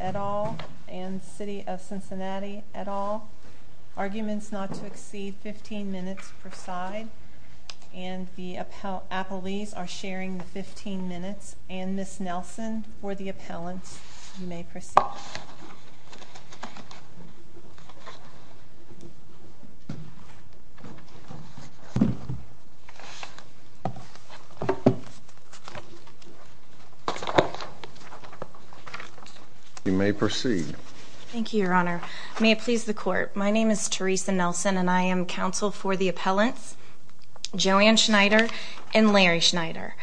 at all and City of Cincinnati at all, arguments not to exceed 15 minutes per side, and the appellees are sharing the 15 minutes, and Ms. Nelson, for the appellants, you may proceed. You may proceed. You may proceed. Thank you, Your Honor. May it please the Court, my name is Theresa Nelson and I am counsel for the appellants, JoAnn Snyder and Larry Snyder.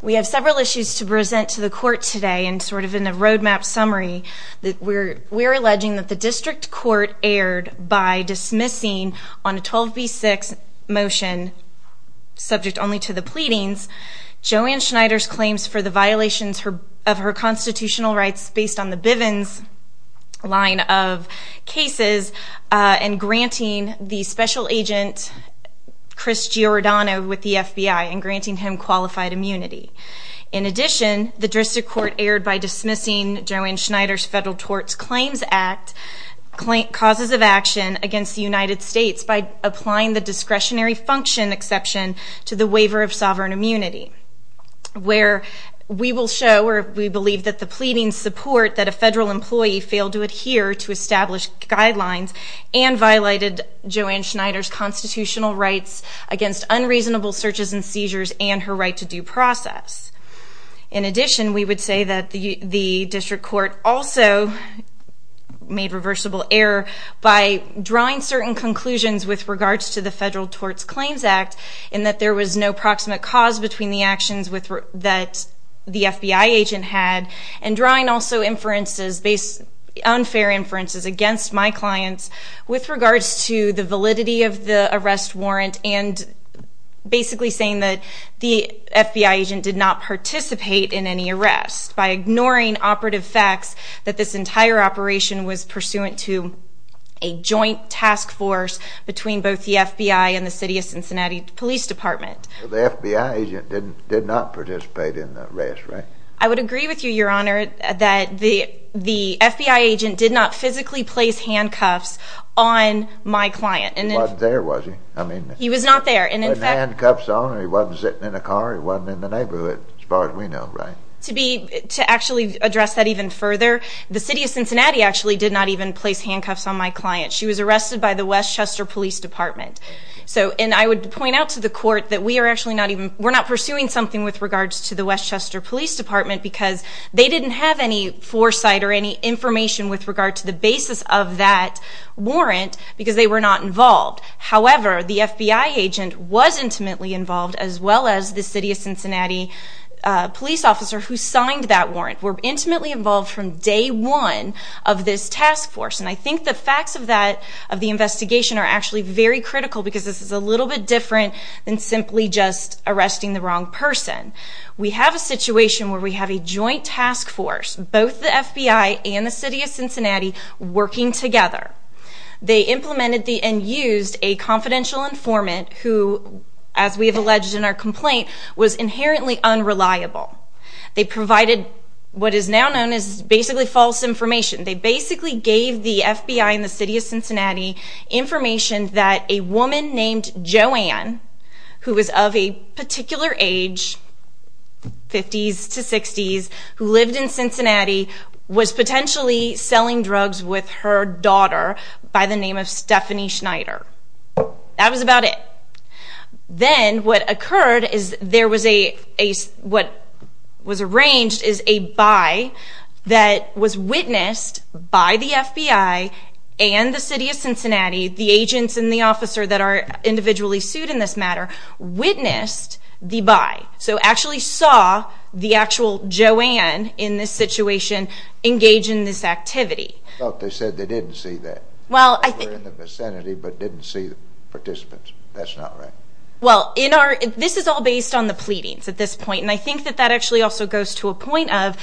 We have several issues to present to the Court today, and sort of in a roadmap summary, we're alleging that the District Court erred by dismissing on a 12B6 motion, subject only to the pleadings, JoAnn Snyder's claims for the violations of her constitutional rights based on In addition, the District Court erred by dismissing JoAnn Snyder's Federal Torts Claims Act causes of action against the United States by applying the discretionary function exception to the waiver of sovereign immunity, where we will show, or we believe, that the pleadings support that a federal employee failed to adhere to established guidelines and violated JoAnn Snyder's constitutional rights against unreasonable searches and seizures and her right to due process. In addition, we would say that the District Court also made reversible error by drawing certain conclusions with regards to the Federal Torts Claims Act, in that there was no proximate cause between the actions that the FBI agent had, and drawing also inferences, unfair inferences, against my clients with regards to the validity of the arrest warrant and basically saying that the FBI agent did not participate in any arrest by ignoring operative facts that this entire operation was pursuant to a joint task force between both the FBI and the City of Cincinnati Police Department. The FBI agent did not participate in the arrest, right? I would agree with you, Your Honor, that the FBI agent did not physically place handcuffs on my client. He wasn't there, was he? He was not there. He wasn't handcuffs on, he wasn't sitting in a car, he wasn't in the neighborhood, as far as we know, right? To actually address that even further, the City of Cincinnati actually did not even place handcuffs on my client. She was arrested by the Westchester Police Department. I would point out to the court that we're not pursuing something with regards to the Westchester Police Department because they didn't have any foresight or any information with regard to the basis of that warrant because they were not involved. However, the FBI agent was intimately involved, as well as the City of Cincinnati police officer who signed that warrant, were intimately involved from day one of this task force. And I think the facts of that, of the investigation, are actually very critical because this is a little bit different than simply just arresting the wrong person. We have a situation where we have a joint task force, both the FBI and the City of Cincinnati working together. They implemented and used a confidential informant who, as we have alleged in our complaint, was inherently unreliable. They provided what is now known as basically false information. They basically gave the FBI and the City of Cincinnati information that a woman named Joanne, who was of a particular age, 50s to 60s, who lived in Cincinnati, was potentially selling drugs with her daughter by the name of Stephanie Schneider. That was about it. Then what occurred is there was a, what was arranged is a buy that was witnessed by the FBI and the City of Cincinnati, the agents and the officer that are individually sued in this matter, witnessed the buy. So actually saw the actual Joanne in this situation engage in this activity. But they said they didn't see that. They were in the vicinity but didn't see the participants. That's not right. Well, this is all based on the pleadings at this point, and I think that that actually also goes to a point of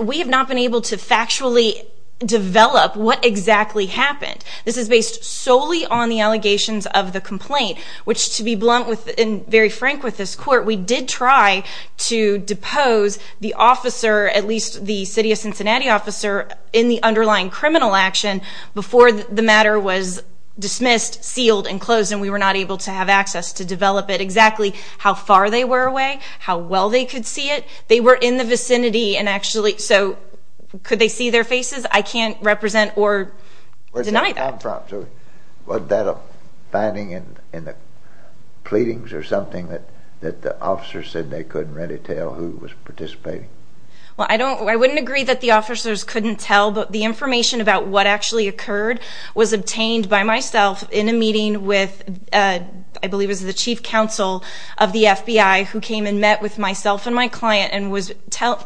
we have not been able to factually develop what exactly happened. This is based solely on the allegations of the complaint, which to be blunt and very frank with this court, we did try to depose the officer, at least the City of Cincinnati officer, in the underlying criminal action before the matter was dismissed, sealed, and closed, and we were not able to have access to develop it, exactly how far they were away, how well they could see it. They were in the vicinity and actually, so could they see their faces? I can't represent or deny that. Was that a finding in the pleadings or something that the officers said they couldn't really tell who was participating? Well, I wouldn't agree that the officers couldn't tell, but the information about what actually occurred was obtained by myself in a meeting with, I believe it was the chief counsel of the FBI, who came and met with myself and my client and was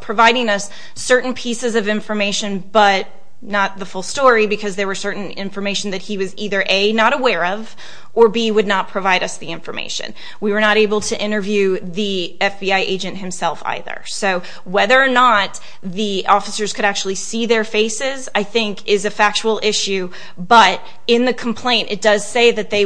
providing us certain pieces of information but not the full story because there was certain information that he was either A, not aware of, or B, would not provide us the information. We were not able to interview the FBI agent himself either. So whether or not the officers could actually see their faces I think is a factual issue, but in the complaint it does say that they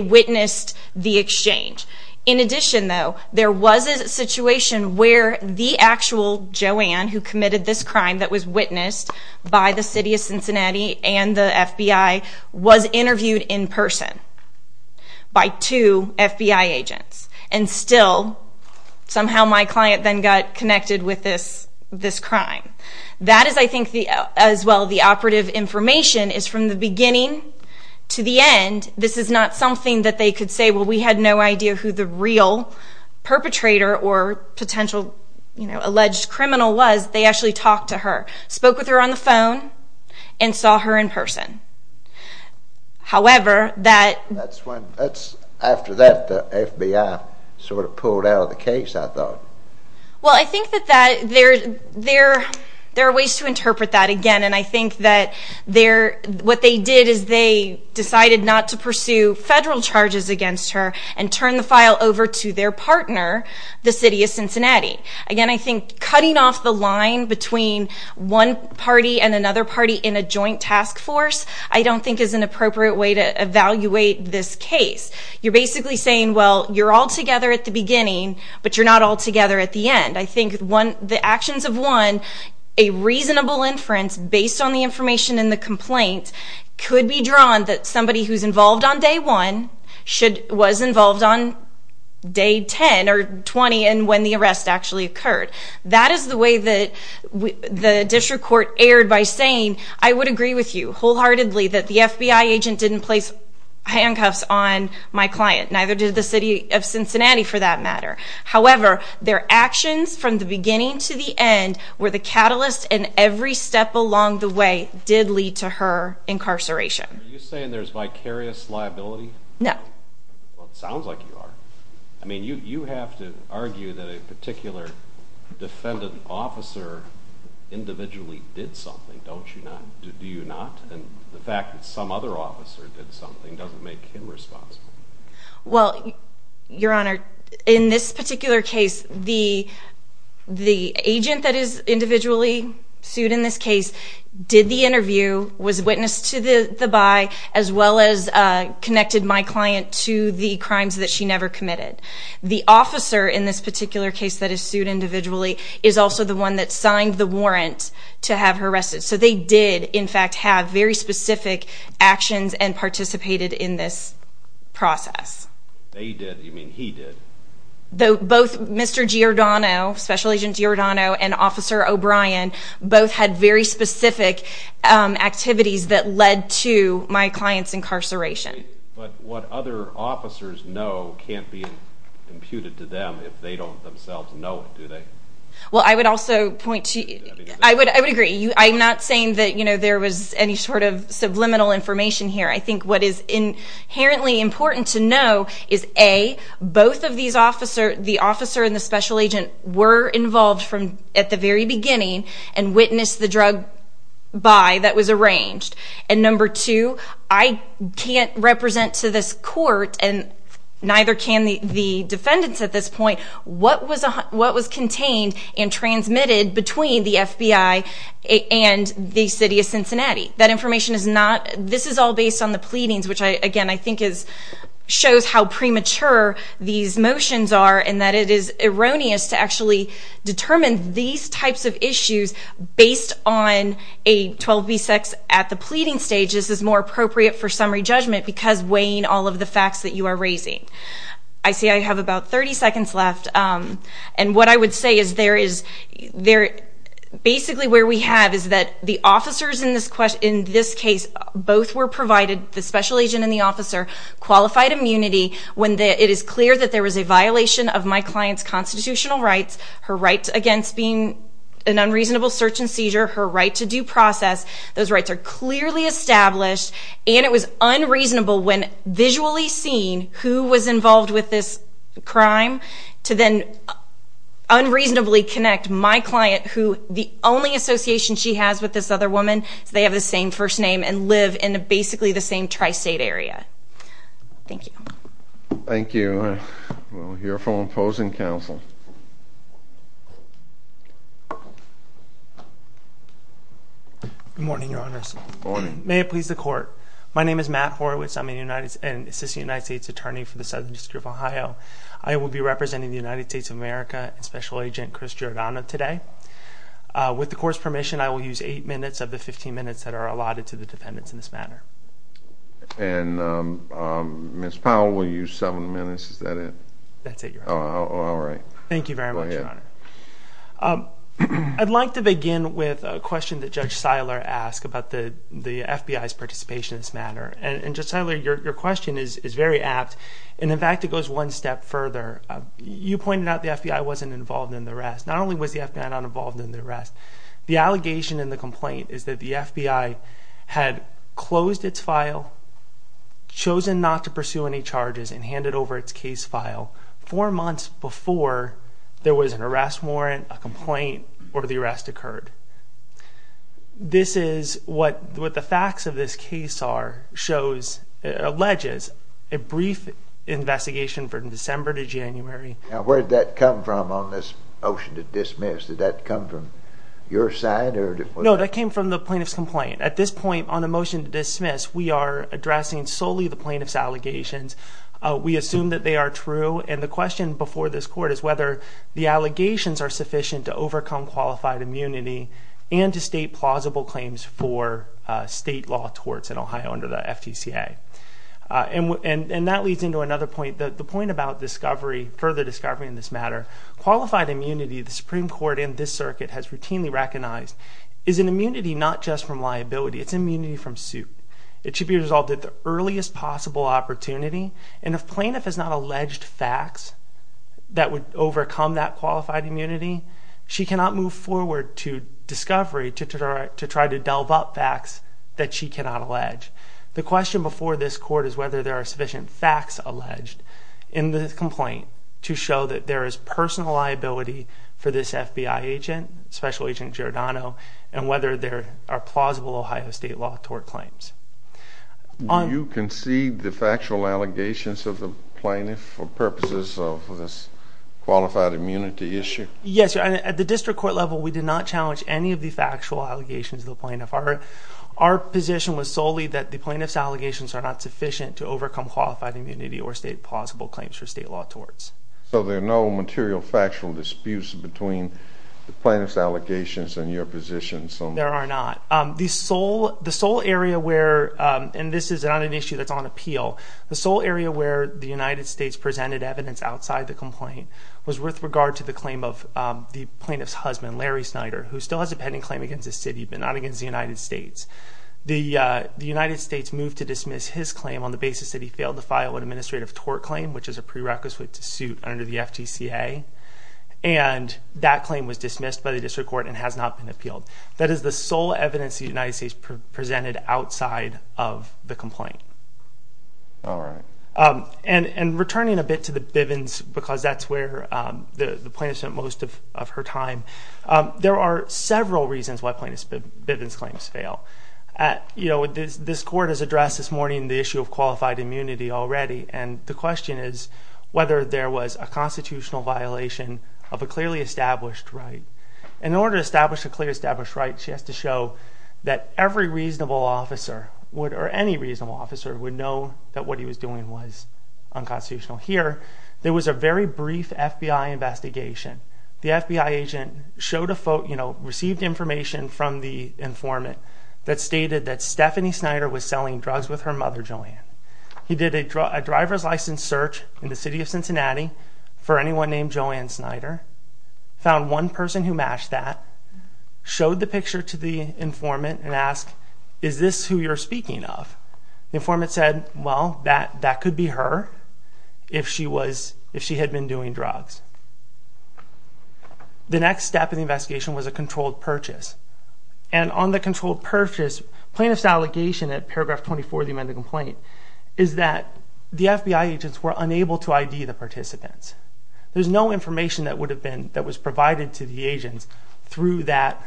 witnessed the exchange. In addition though, there was a situation where the actual Joanne, who committed this crime that was witnessed by the city of Cincinnati and the FBI, was interviewed in person by two FBI agents. And still, somehow my client then got connected with this crime. That is, I think as well, the operative information is from the beginning to the end. This is not something that they could say, well, we had no idea who the real perpetrator or potential alleged criminal was. They actually talked to her, spoke with her on the phone, and saw her in person. However, that... That's when, after that, the FBI sort of pulled out of the case, I thought. Well, I think that there are ways to interpret that again, and I think that what they did is they decided not to pursue federal charges against her and turned the file over to their partner, the city of Cincinnati. Again, I think cutting off the line between one party and another party in a joint task force I don't think is an appropriate way to evaluate this case. You're basically saying, well, you're all together at the beginning, but you're not all together at the end. I think the actions of one, a reasonable inference based on the information in the complaint, could be drawn that somebody who's involved on day one was involved on day 10 or 20 and when the arrest actually occurred. That is the way that the district court erred by saying, I would agree with you wholeheartedly that the FBI agent didn't place handcuffs on my client, neither did the city of Cincinnati for that matter. However, their actions from the beginning to the end were the catalyst and every step along the way did lead to her incarceration. Are you saying there's vicarious liability? No. Well, it sounds like you are. I mean, you have to argue that a particular defendant officer individually did something, don't you not? Do you not? And the fact that some other officer did something doesn't make him responsible. Well, Your Honor, in this particular case, the agent that is individually sued in this case did the interview, was witness to the buy, as well as connected my client to the crimes that she never committed. The officer in this particular case that is sued individually is also the one that signed the warrant to have her arrested. So they did, in fact, have very specific actions and participated in this process. They did? You mean he did? Both Mr. Giordano, Special Agent Giordano and Officer O'Brien, both had very specific activities that led to my client's incarceration. But what other officers know can't be imputed to them if they don't themselves know it, do they? Well, I would also point to... I would agree. I'm not saying that there was any sort of subliminal information here. I think what is inherently important to know is A, both of these officers, the officer and the special agent, were involved at the very beginning and witnessed the drug buy that was arranged. And number two, I can't represent to this court, and neither can the defendants at this point, what was contained and transmitted between the FBI and the city of Cincinnati. That information is not... This is all based on the pleadings, which, again, I think shows how premature these motions are and that it is erroneous to actually determine these types of issues based on a 12b sex at the pleading stage. This is more appropriate for summary judgment because weighing all of the facts that you are raising. I see I have about 30 seconds left. And what I would say is there is... Basically where we have is that the officers in this case both were provided, the special agent and the officer, qualified immunity when it is clear that there was a violation of my client's constitutional rights, her rights against being an unreasonable search and seizure, her right to due process. Those rights are clearly established, and it was unreasonable when visually seeing who was involved with this crime to then unreasonably connect my client, who the only association she has with this other woman, so they have the same first name and live in basically the same tri-state area. Thank you. Thank you. We'll hear from opposing counsel. Good morning, Your Honors. Morning. May it please the Court. My name is Matt Horowitz. I'm an Assistant United States Attorney for the Southern District of Ohio. I will be representing the United States of America and Special Agent Chris Giordano today. With the Court's permission, I will use eight minutes of the 15 minutes that are allotted to the defendants in this matter. And Ms. Powell will use seven minutes. Is that it? That's it, Your Honor. All right. Thank you very much, Your Honor. Go ahead. I'd like to begin with a question that Judge Seiler asked about the FBI's participation in this matter. And, Judge Seiler, your question is very apt, and, in fact, it goes one step further. You pointed out the FBI wasn't involved in the arrest. Not only was the FBI not involved in the arrest, the allegation in the complaint is that the FBI had closed its file, chosen not to pursue any charges, and handed over its case file four months before there was an arrest warrant, a complaint, or the arrest occurred. This is what the facts of this case are, shows, alleges, a brief investigation from December to January. Now, where did that come from on this motion to dismiss? Did that come from your side? No, that came from the plaintiff's complaint. At this point, on a motion to dismiss, we are addressing solely the plaintiff's allegations. We assume that they are true, and the question before this Court is whether the allegations are sufficient to overcome qualified immunity and to state plausible claims for state law torts in Ohio under the FTCA. And that leads into another point, the point about discovery, further discovery in this matter. Qualified immunity, the Supreme Court in this circuit has routinely recognized, is an immunity not just from liability, it's immunity from suit. It should be resolved at the earliest possible opportunity, and if plaintiff has not alleged facts that would overcome that qualified immunity, she cannot move forward to discovery to try to delve up facts that she cannot allege. The question before this Court is whether there are sufficient facts alleged in this complaint to show that there is personal liability for this FBI agent, Special Agent Giordano, and whether there are plausible Ohio state law tort claims. Do you concede the factual allegations of the plaintiff for purposes of this qualified immunity issue? Yes. At the district court level, we did not challenge any of the factual allegations of the plaintiff. Our position was solely that the plaintiff's allegations are not sufficient to overcome qualified immunity or state plausible claims for state law torts. So there are no material factual disputes between the plaintiff's allegations and your position? There are not. The sole area where, and this is not an issue that's on appeal, the sole area where the United States presented evidence outside the complaint was with regard to the claim of the plaintiff's husband, Larry Snyder, who still has a pending claim against the city, but not against the United States. The United States moved to dismiss his claim on the basis that he failed to file an administrative tort claim, which is a prerequisite to suit under the FTCA, and that claim was dismissed by the district court and has not been appealed. That is the sole evidence the United States presented outside of the complaint. All right. And returning a bit to the Bivens, because that's where the plaintiff spent most of her time, there are several reasons why plaintiff's Bivens claims fail. This court has addressed this morning the issue of qualified immunity already, and the question is whether there was a constitutional violation of a clearly established right. In order to establish a clearly established right, she has to show that every reasonable officer, or any reasonable officer, would know that what he was doing was unconstitutional. Here, there was a very brief FBI investigation. The FBI agent showed a photo, you know, received information from the informant that stated that Stephanie Snyder was selling drugs with her mother, Joanne. He did a driver's license search in the city of Cincinnati for anyone named Joanne Snyder, found one person who matched that, showed the picture to the informant, and asked, is this who you're speaking of? The informant said, well, that could be her if she had been doing drugs. The next step in the investigation was a controlled purchase. And on the controlled purchase, plaintiff's allegation at paragraph 24 of the amended complaint is that the FBI agents were unable to ID the participants. There's no information that was provided to the agents through that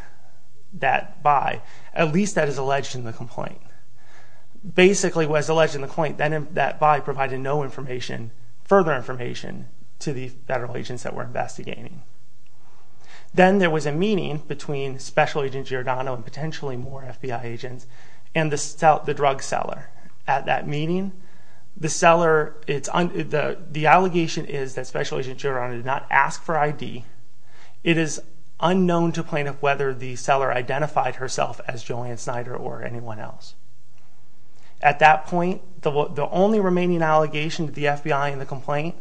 buy. At least that is alleged in the complaint. Basically, it was alleged in the complaint that that buy provided no information, further information, to the federal agents that were investigating. Then there was a meeting between Special Agent Giordano and potentially more FBI agents and the drug seller. At that meeting, the allegations is that Special Agent Giordano did not ask for ID. It is unknown to plaintiff whether the seller identified herself as Joanne Snyder or anyone else. At that point, the only remaining allegation to the FBI in the complaint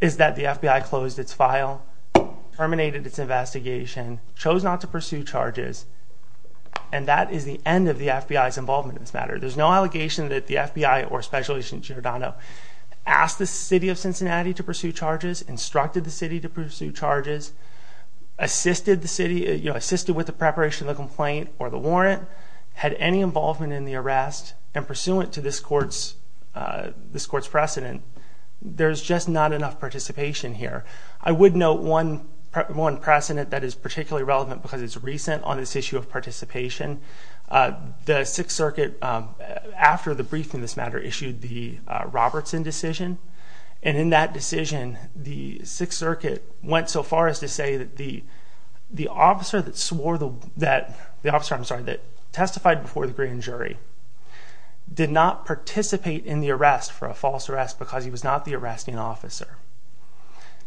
is that the FBI closed its file, terminated its investigation, chose not to pursue charges, and that is the end of the FBI's involvement in this matter. There's no allegation that the FBI or Special Agent Giordano asked the city of Cincinnati to pursue charges, instructed the city to pursue charges, assisted with the preparation of the complaint or the warrant, had any involvement in the arrest, and pursuant to this court's precedent, there's just not enough participation here. I would note one precedent that is particularly relevant because it's recent on this issue of participation. The Sixth Circuit, after the briefing this matter, issued the Robertson decision, and in that decision, the Sixth Circuit went so far as to say that the officer that testified before the grand jury did not participate in the arrest for a false arrest because he was not the arresting officer.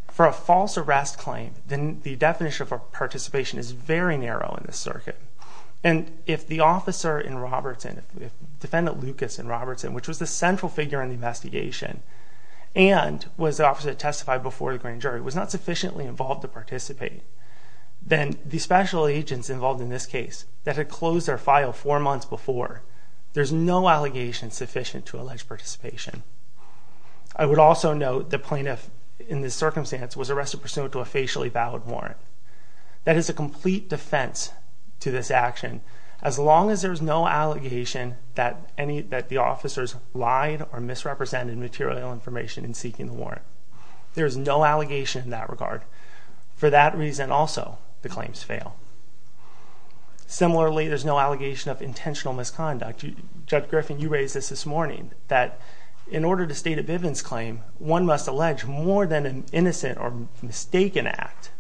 For a false arrest claim, then the definition for participation is very narrow in this circuit. And if the officer in Robertson, if Defendant Lucas in Robertson, which was the central figure in the investigation, and was the officer that testified before the grand jury, was not sufficiently involved to participate, then the special agents involved in this case that had closed their file four months before, there's no allegation sufficient to allege participation. I would also note the plaintiff in this circumstance was arrested pursuant to a facially valid warrant. That is a complete defense to this action. As long as there's no allegation that the officers lied or misrepresented material information in seeking the warrant. There's no allegation in that regard. For that reason also, the claims fail. Similarly, there's no allegation of intentional misconduct. Judge Griffin, you raised this this morning, that in order to state a Bivens claim, one must allege more than an innocent or mistaken act.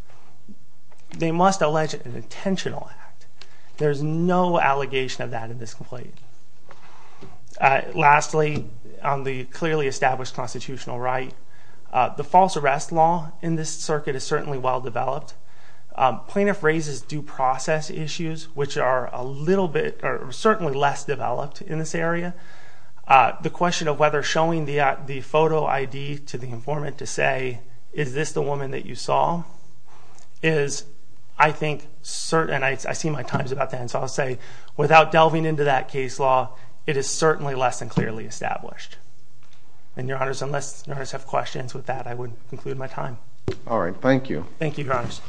They must allege an intentional act. There's no allegation of that in this complaint. Lastly, on the clearly established constitutional right, the false arrest law in this circuit is certainly well developed. Plaintiff raises due process issues, which are certainly less developed in this area. The question of whether showing the photo ID to the informant to say, is this the woman that you saw? I see my time's about to end, so I'll say, without delving into that case law, it is certainly less than clearly established. Your Honors, unless you have questions with that, I would conclude my time. All right. Thank you. Thank you, Your Honors.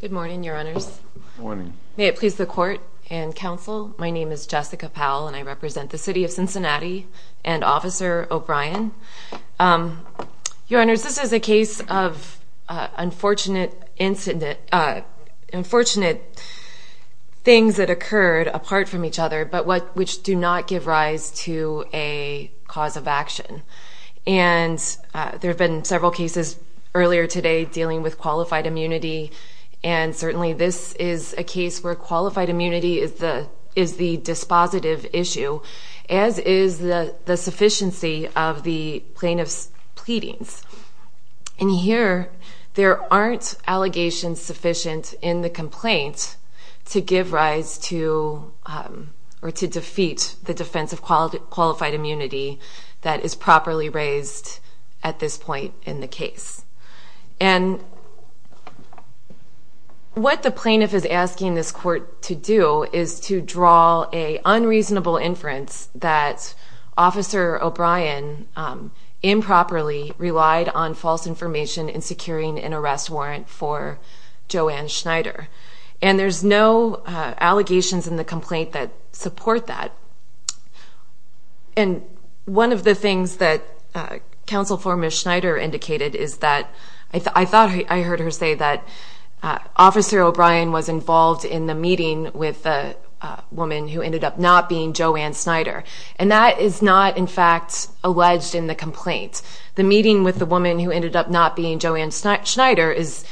Good morning, Your Honors. Good morning. May it please the Court and Counsel, my name is Jessica Powell, and I represent the City of Cincinnati and Officer O'Brien. Your Honors, this is a case of unfortunate incident, appalling things that happened, and I would like to ask the Court, which do not give rise to a cause of action. And there have been several cases earlier today dealing with qualified immunity, and certainly this is a case where qualified immunity is the dispositive issue, as is the sufficiency of the plaintiff's pleadings. And here, there aren't allegations sufficient in the complaint to give rise to or to defeat the defense of qualified immunity that is properly raised at this point in the case. And what the plaintiff is asking this Court to do is to draw a unreasonable inference that Officer O'Brien improperly relied on false information in securing an arrest warrant for Joanne Schneider. And there's no allegations in the complaint that support that. And one of the things that Counsel for Ms. Schneider indicated is that, I thought I heard her say that Officer O'Brien was involved in the meeting with the woman who ended up not being Joanne Schneider. And that is not in fact alleged in the complaint. The meeting with the woman who ended up not being Joanne Schneider is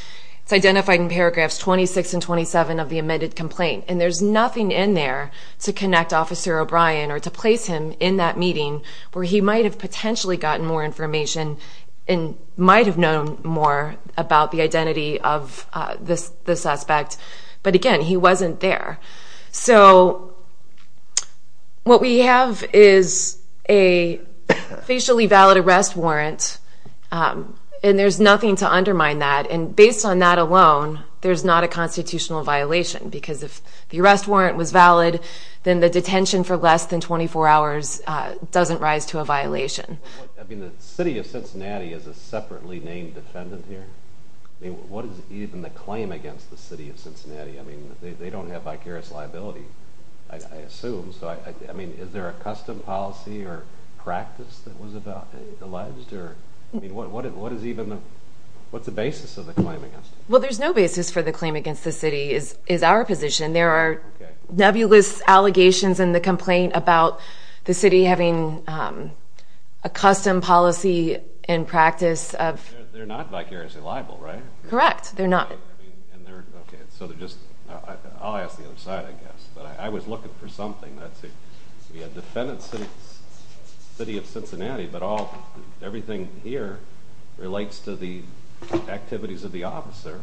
identified in paragraphs 26 and 27 of the amended complaint. And there's nothing in there to connect Officer O'Brien or to place him in that meeting where he might have potentially gotten more information and might have known more about the identity of the suspect. But again, he wasn't there. So what we have is a facially valid arrest warrant and there's nothing to base on that alone. There's not a constitutional violation because if the arrest warrant was valid, then the detention for less than 24 hours doesn't rise to a violation. I mean, the city of Cincinnati is a separately named defendant here. I mean, what is even the claim against the city of Cincinnati? I mean, they don't have vicarious liability, I assume. So I mean, is there a custom policy or practice that was about alleged or, I mean, what is even, what's the basis of the claim against it? Well, there's no basis for the claim against the city is our position. There are nebulous allegations in the complaint about the city having a custom policy and practice of. They're not vicariously liable, right? Correct. They're not. Okay. So they're just, I'll ask the other side, I guess, but I was looking for something that's a defendant city of Cincinnati, but all, everything here relates to the activities of the officer.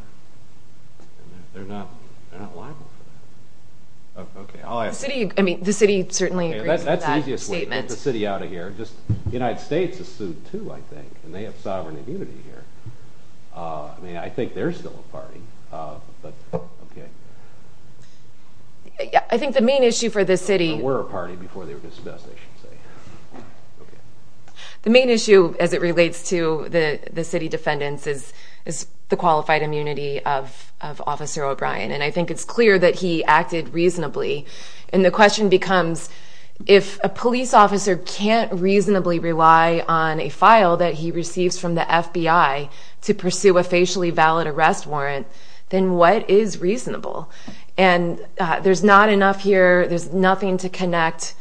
They're not, they're not liable for that. Okay. I'll ask the city. I mean, the city certainly agrees with that statement. Get the city out of here. Just the United States is sued too, I think, and they have sovereign immunity here. I mean, I think there's still a party, but okay. Yeah. I think the main issue for the city were a party before they were discussed, I should say. The main issue as it relates to the city defendants is, is the qualified immunity of, of officer O'Brien. And I think it's clear that he acted reasonably. And the question becomes, if a police officer can't reasonably rely on a file that he receives from the FBI to pursue a facially valid arrest warrant, then what is reasonable? And there's not enough here. There's nothing to connect.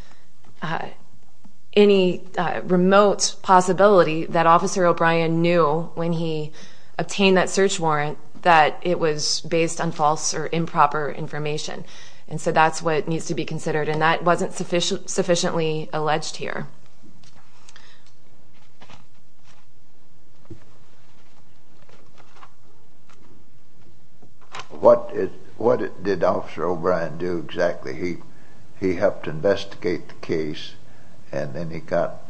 Any remote possibility that officer O'Brien knew when he obtained that search warrant, that it was based on false or improper information. And so that's what needs to be considered. And that wasn't sufficient sufficiently alleged here. What is, what did officer O'Brien do exactly? He, he helped investigate the case and then he got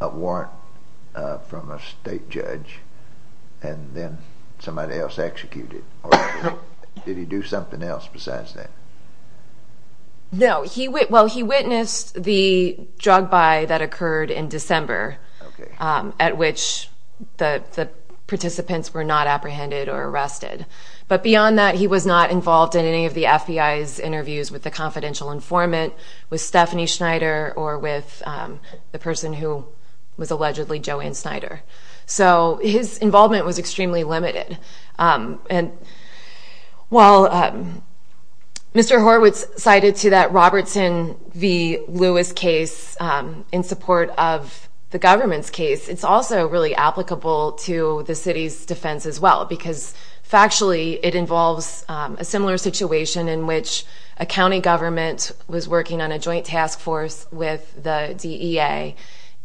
a warrant from a state judge and then somebody else executed. Did he do something else besides that? No, he, well, he witnessed the drug buy that occurred in December at which the, the participants were not apprehended or arrested. But beyond that, he was not involved in any of the FBI's interviews with the confidential informant, with Stephanie Schneider or with the person who was allegedly Joanne Snyder. So his involvement was extremely limited. And while Mr. Horowitz cited to that Robertson v. Lewis case in support of the government's case, it's also really applicable to the city's defense as well, because factually it involves a similar situation in which a county government was working on a joint task force with the DEA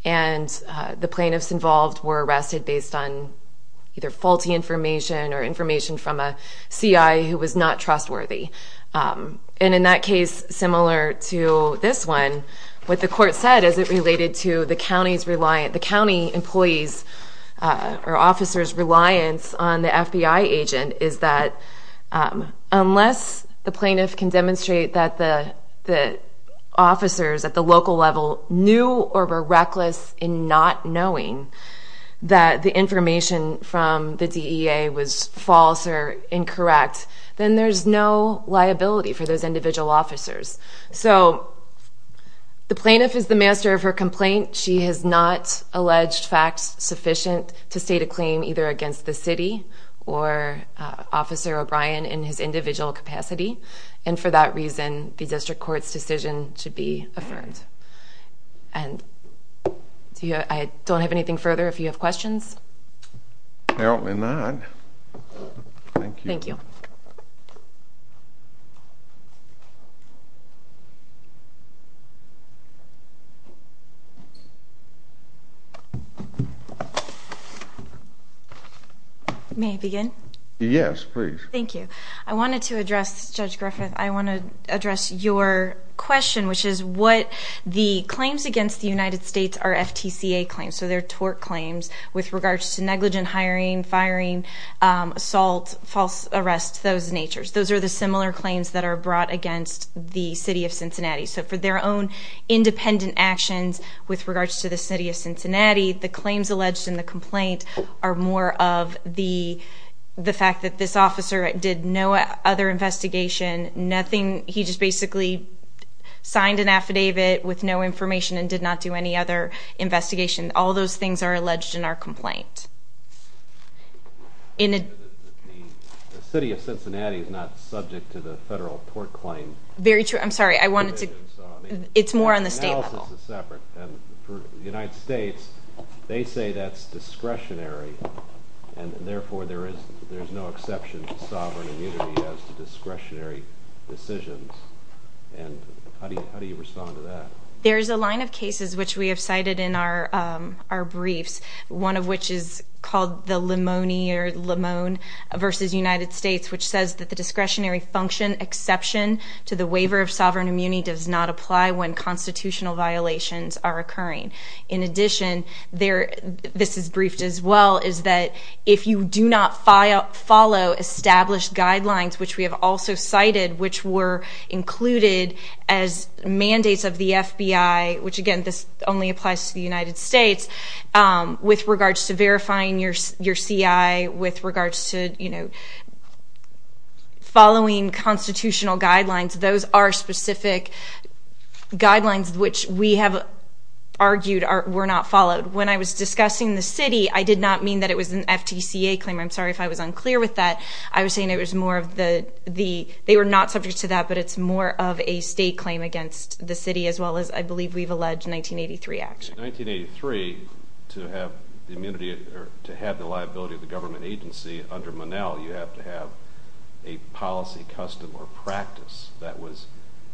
and the plaintiffs involved were arrested based on either faulty information or information from a CI who was not trustworthy. And in that case, similar to this one, what the court said is it related to the county's reliant, the county employees or officers reliance on the FBI agent is that unless the plaintiff can demonstrate that the, the officers at the local level knew or were reckless in not knowing that the information from the DEA was false or incorrect, then there's no liability for those individual officers. So the plaintiff is the master of her complaint. She has not alleged facts sufficient to state a claim either against the city or officer O'Brien in his individual capacity. And for that reason, the district court's decision should be affirmed. And I don't have anything further. If you have questions. Thank you. May I begin? Yes, please. Thank you. I wanted to address judge Griffith. I want to address your question, which is what the claims against the United States are FTCA claims. So they're tort claims with regards to negligent hiring, firing, assault, false arrest, those natures. Those are the similar claims that are brought against the city of Cincinnati. So for their own independent actions with regards to the city of Cincinnati, the claims alleged in the complaint are more of the, the fact that this officer did no other investigation, nothing. He just basically signed an affidavit with no information and did not do any other investigation. All of those things are alleged in our complaint. The city of Cincinnati is not subject to the federal tort claim. Very true. I'm sorry. I wanted to, it's more on the state level for the United States. They say that's discretionary and therefore there is, there's no exception to sovereign immunity as to discretionary decisions. And how do you, how do you respond to that? There's a line of cases, which we have cited in our, our briefs, one of which is called the Limoni or Limone versus United States, which says that the discretionary function exception to the waiver of sovereign immunity does not apply when constitutional violations are occurring. In addition, there, this is briefed as well, is that if you do not follow established guidelines, which we have also cited, which were included as mandates of the FBI, which again, this only applies to the United States with regards to verifying your, your CI with regards to, you know, following constitutional guidelines. Those are specific guidelines, which we have argued are, were not followed. When I was discussing the city, I did not mean that it was an FTCA claim. I'm sorry if I was unclear with that. I was saying it was more of the, the, they were not subject to that, but it's more of a state claim against the city as well as I believe we've alleged 1983 action. To have the immunity or to have the liability of the government agency under Manel, you have to have a policy custom or practice that was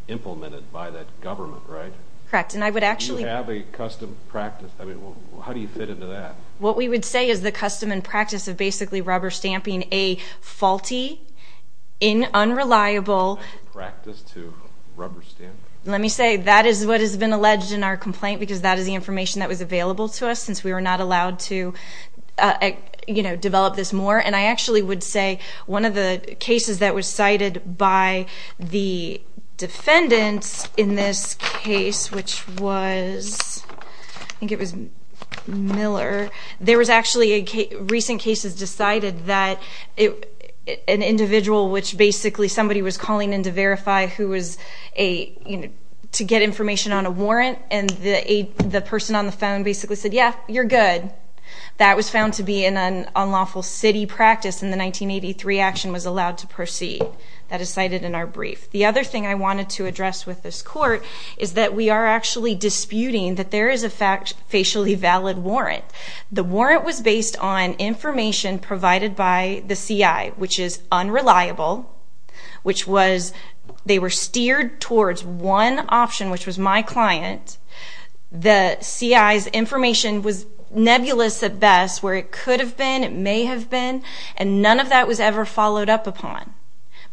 implemented by that government, right? Correct. And I would actually have a custom practice. I mean, how do you fit into that? What we would say is the custom and practice of basically rubber stamping, a faulty in unreliable practice to rubber stamp. Let me say, that is what has been alleged in our complaint because that is the information that was available to us since we were not allowed to, uh, you know, develop this more. And I actually would say one of the cases that was cited by the defendants in this case, which was, I think it was Miller. There was actually a case, recent cases decided that it, an individual, which basically somebody was calling in to verify who was a, you know, to get information on a warrant. And the, a, the person on the phone basically said, yeah, you're good. That was found to be an unlawful city practice in the 1983 action was allowed to proceed. That is cited in our brief. The other thing I wanted to address with this court is that we are actually disputing that there is a fact facially valid warrant. The warrant was based on information provided by the CI, which is unreliable, which was, they were steered towards one option, which was my client. The CI's information was nebulous at best where it could have been. It may have been. And none of that was ever followed up upon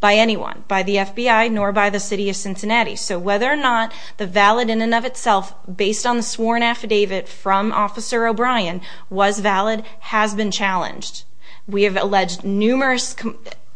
by anyone, by the FBI, nor by the city of Cincinnati. So whether or not the valid in and of itself based on the sworn affidavit from officer O'Brien was valid has been challenged. We have alleged numerous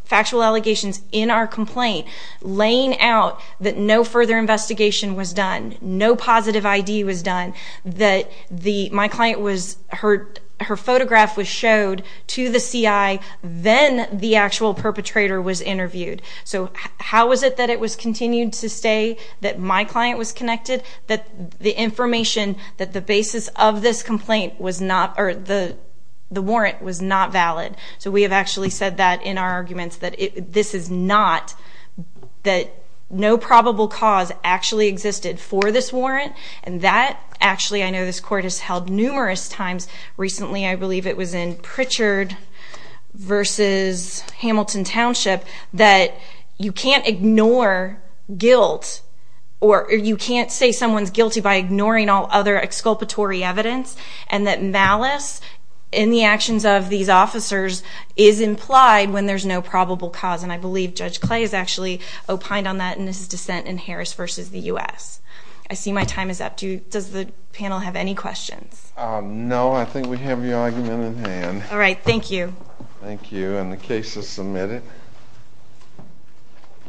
factual allegations in our complaint, laying out that no further investigation was done. No positive ID was done that the, my client was hurt. Her photograph was showed to the CI. Then the actual perpetrator was interviewed. So how was it that it was continued to stay that my client was connected, that the information that the basis of this complaint was not, or the, the warrant was not valid. So we have actually said that in our arguments that it, this is not that no probable cause actually existed for this warrant. And that actually, I know this court has held numerous times recently, I believe it was in Pritchard versus Hamilton township, that you can't ignore guilt, or you can't say someone's guilty by ignoring all other exculpatory evidence. And that malice in the actions of these officers is implied when there's no probable cause. And I believe judge Clay is actually opined on that. And this is dissent in Harris versus the U S I see my time is up to, does the panel have any questions? No, I think we have your argument in hand. All right. Thank you. Thank you. And the case is submitted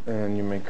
and you may call.